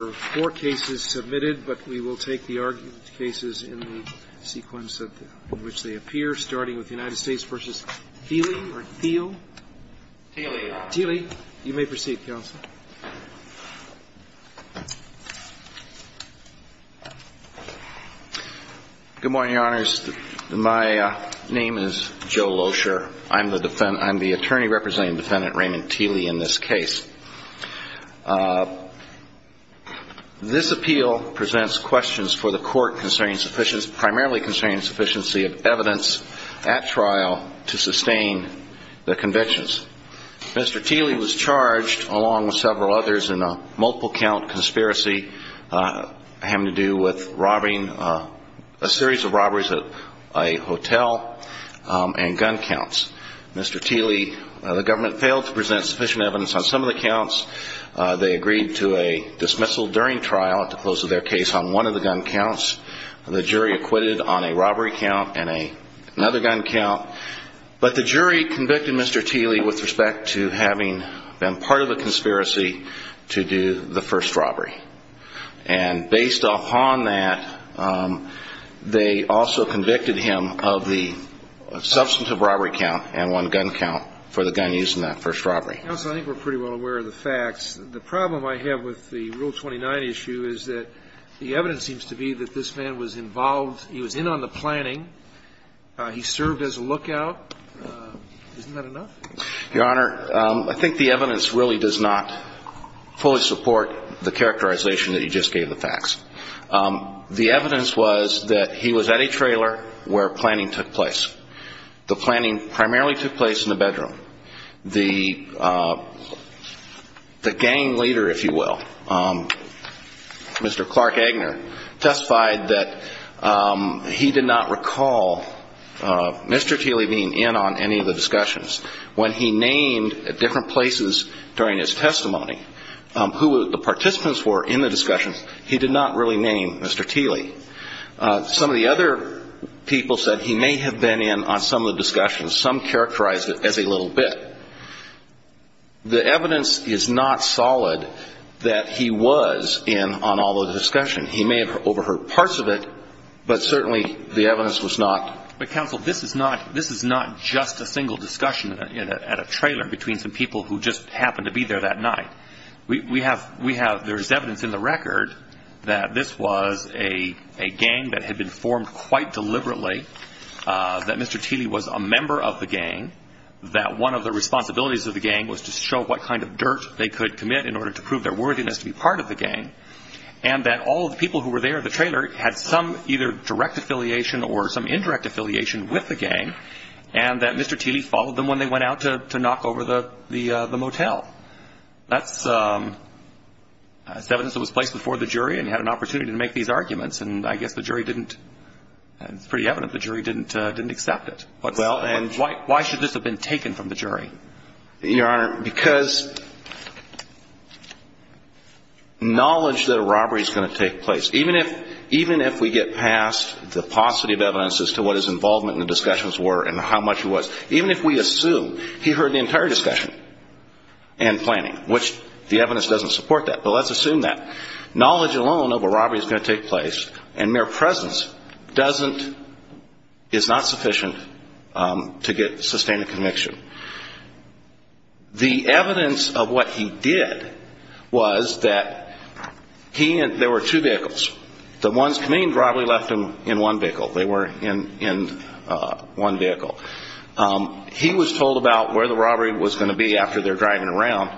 Thiele. Thiele. You may proceed, Counsel. Good morning, Your Honors. My name is Joe Thiele. This appeal presents questions for the court concerning sufficiency, primarily concerning sufficiency of evidence at trial to sustain the convictions. Mr. Thiele was charged, along with several others, in a multiple count conspiracy having to do with robbing a series of robberies at a hotel and gun counts. Mr. Thiele, the government failed to present sufficient evidence on some of the counts. They agreed to a dismissal during trial to close their case on one of the gun counts. The jury acquitted on a robbery count and another gun count. But the jury convicted Mr. Thiele with respect to having been part of a conspiracy to do the first robbery. And based upon that, they also convicted him of the substantive robbery count and one gun count for the gun used in that first robbery. Counsel, I think we're pretty well aware of the facts. The problem I have with the Rule 29 issue is that the evidence seems to be that this man was involved, he was in on the planning, he served as a lookout. Isn't that enough? Your Honor, I think the evidence really does not fully support the characterization that you just gave the facts. The evidence was that he was at a trailer where planning took place. The planning primarily took place in the bedroom. The gang leader, if you will, Mr. Clark Agner, testified that he did not recall Mr. Thiele being in on any of the discussions. When he named at different places during his testimony who the participants were in the discussions, he did not really name Mr. Thiele. Some of the other people said he may have been in on some of the discussions. Some characterized it as a little bit. The evidence is not solid that he was in on all of the discussion. He may have overheard parts of it, but certainly the evidence was not. But, Counsel, this is not just a single discussion at a trailer between some people who just happened to be there that night. There is evidence in the record that this was a gang that had been formed quite deliberately, that Mr. Thiele was a member of the gang, that one of the responsibilities of the gang was to show what kind of dirt they could commit in order to prove their worthiness to be part of the gang, and that all of the people who were there at the trailer had some either direct affiliation or some indirect affiliation with the gang, and that Mr. Thiele followed them when they went out to knock over the motel. That's evidence that was placed before the jury, and he had an opportunity to make these arguments, and I guess the jury didn't, it's pretty evident the jury didn't accept it. Why should this have been taken from the jury? Your Honor, because knowledge that a robbery is going to take place, even if we get past the paucity of evidence as to what his involvement in the discussions were and how much it was, even if we assume he heard the entire discussion and planning, which the evidence doesn't support that, but let's assume that. Knowledge alone of a robbery is going to take place, and mere presence doesn't, is not sufficient to sustain a conviction. The evidence of what he did was that he and, there were two vehicles. The ones coming in the robbery left them in one vehicle. They were in one vehicle. He was told about where the robbery was going to be after they're driving around,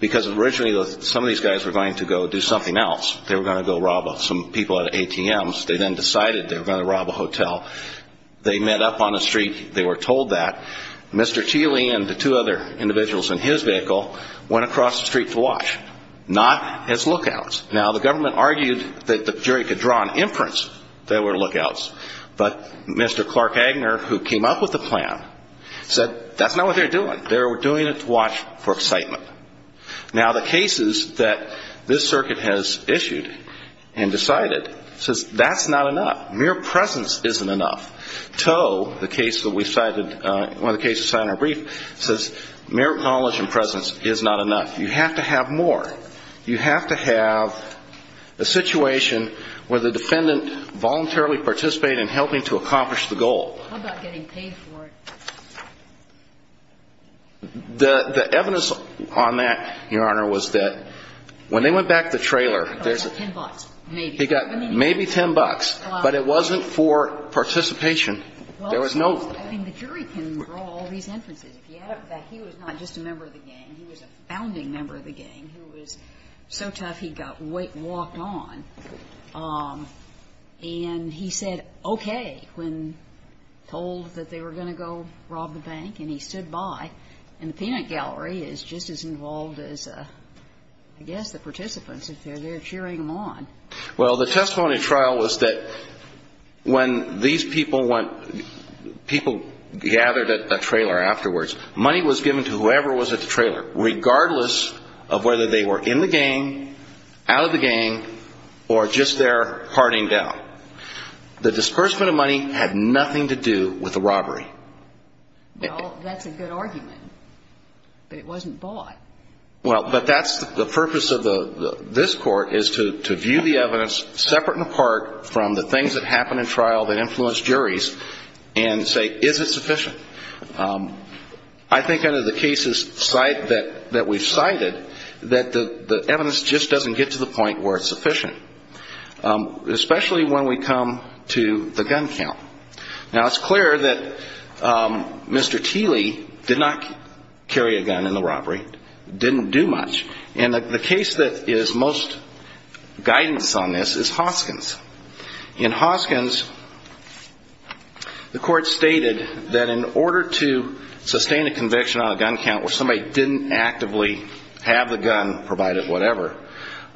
because originally some of these guys were going to go do something else. They were going to go rob some people at ATMs. They then decided they were going to rob a hotel. They met up on a street. They were told that. Mr. Thiele and the two other individuals in his vehicle went across the street to watch, not as lookouts. Now, the government argued that the jury could draw an inference that they were lookouts, but Mr. Clark Agner, who came up with the plan, said that's not what they're doing. They were doing it to watch for excitement. Now, the cases that this circuit has issued and decided says that's not enough. Mere presence isn't enough. Toe, the case that we cited, one of the cases cited in our brief, says mere knowledge and presence is not enough. You have to have more. You have to have a situation where the defendant voluntarily participated in helping to accomplish the goal. How about getting paid for it? The evidence on that, Your Honor, was that when they went back to the trailer, there's a He got maybe 10 bucks, but it wasn't for participation. There was no ---- I mean, the jury can draw all these inferences. If you add up that he was not just a member of the gang, he was a founding member of the gang, who was so tough he got walked on, and he said, okay, when told that they were going to go rob the bank and he stood by, and the peanut gallery is just as involved as, I guess, the participants if they're there cheering them on. Well, the testimony trial was that when these people went, people gathered at the trailer afterwards, money was given to whoever was at the trailer, regardless of whether they were in the gang, out of the gang, or just there parting down. The disbursement of money had nothing to do with the robbery. Well, that's a good argument, but it wasn't bought. Well, but that's the purpose of this Court, is to view the evidence separate and apart from the things that happen in trial that influence juries and say, is it sufficient? I think under the cases that we've cited, that the evidence just doesn't get to the point where it's sufficient, especially when we come to the gun count. Now, it's clear that Mr. Teeley did not carry a gun in the robbery, didn't do much, and the case that is most guidance on this is Hoskins. In Hoskins, the Court stated that in order to sustain a conviction on a gun count where somebody didn't actively have the gun, provided whatever,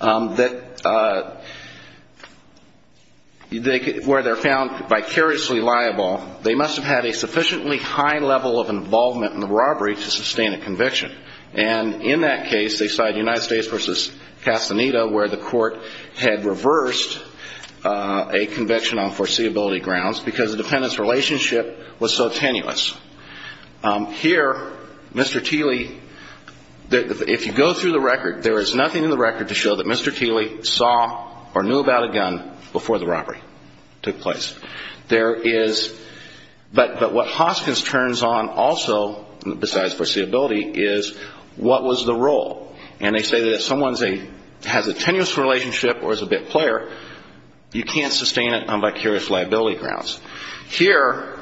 that where they're found by carrying a gun in the robbery, they were not allowed to carry a gun. If they were commercially liable, they must have had a sufficiently high level of involvement in the robbery to sustain a conviction. And in that case, they cited United States v. Castaneda, where the Court had reversed a conviction on foreseeability grounds because the defendant's relationship was so tenuous. Here, Mr. Teeley, if you go through the record, there is nothing in the record to show that Mr. Teeley saw or knew about a gun before the robbery took place. There is, but what Hoskins turns on also, besides foreseeability, is what was the role. And they say that if someone has a tenuous relationship or is a bit player, you can't sustain it on vicarious liability grounds. Here,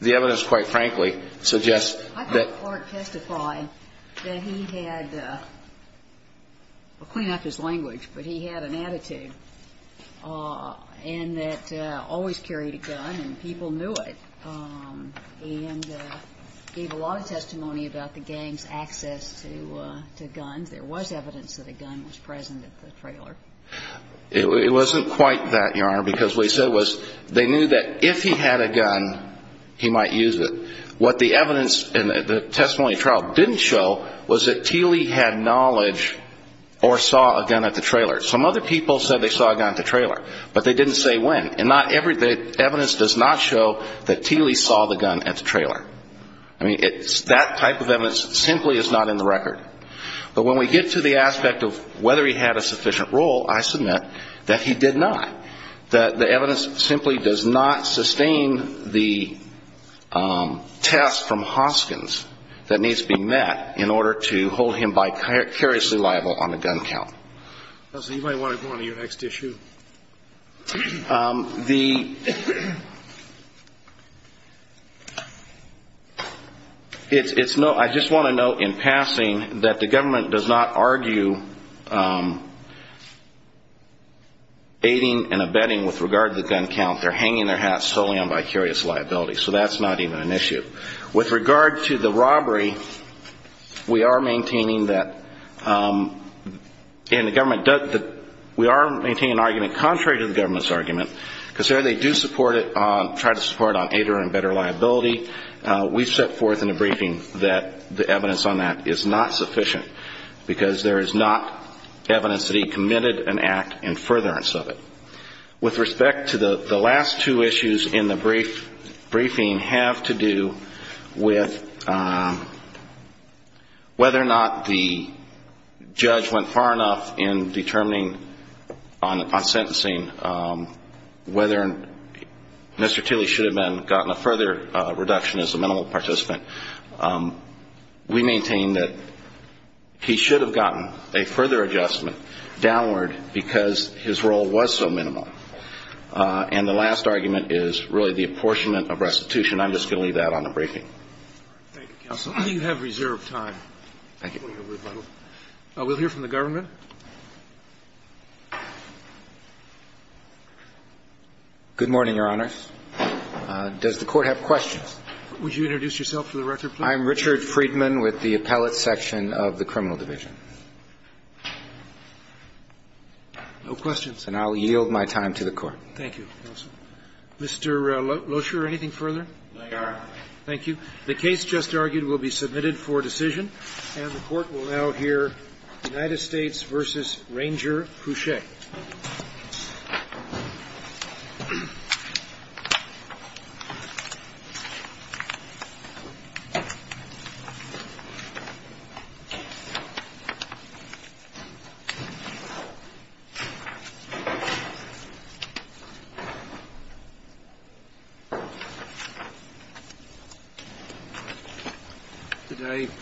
the evidence, quite frankly, suggests that... I thought Clark testified that he had, well, clean up his language, but he had an attitude of being a bit player. And that always carried a gun and people knew it. And gave a lot of testimony about the gang's access to guns. There was evidence that a gun was present at the trailer. It wasn't quite that, Your Honor, because what he said was they knew that if he had a gun, he might use it. What the evidence in the testimony trial didn't show was that Teeley had knowledge or saw a gun at the trailer. Some other people said they saw a gun at the trailer, but they didn't say when. And the evidence does not show that Teeley saw the gun at the trailer. I mean, that type of evidence simply is not in the record. But when we get to the aspect of whether he had a sufficient role, I submit that he did not. The evidence simply does not sustain the test from Hoskins that needs to be met in order to hold him vicariously liable on the gun count. Anybody want to go on to your next issue? I just want to note in passing that the government does not argue aiding and abetting with regard to the gun count. They're hanging their hats solely on vicarious liability, so that's not even an issue. With regard to the robbery, we are maintaining that in the government, we are maintaining an argument contrary to the government's argument, because there they do support it, try to support it on aiding and abetting liability. We've set forth in the briefing that the evidence on that is not sufficient, because there is not evidence that he committed an act in furtherance of it. With respect to the last two issues in the briefing have to do with whether or not the judge went far enough in determining on sentencing whether Mr. Teeley should have gotten a further reduction as a minimal participant. We maintain that he should have gotten a further adjustment downward, because his role was so minimal. And the last argument is really the apportionment of restitution. I'm just going to leave that on the briefing. Thank you, counsel. You have reserved time. We'll hear from the government. Good morning, Your Honor. Does the Court have questions? Would you introduce yourself for the record, please? I'm Richard Friedman with the Appellate Section of the Criminal Division. No questions. And I'll yield my time to the Court. Thank you, counsel. Mr. Loescher, anything further? No, Your Honor. Thank you. The case just argued will be submitted for decision. And the Court will now hear United States v. Ranger Crusch. Thank you.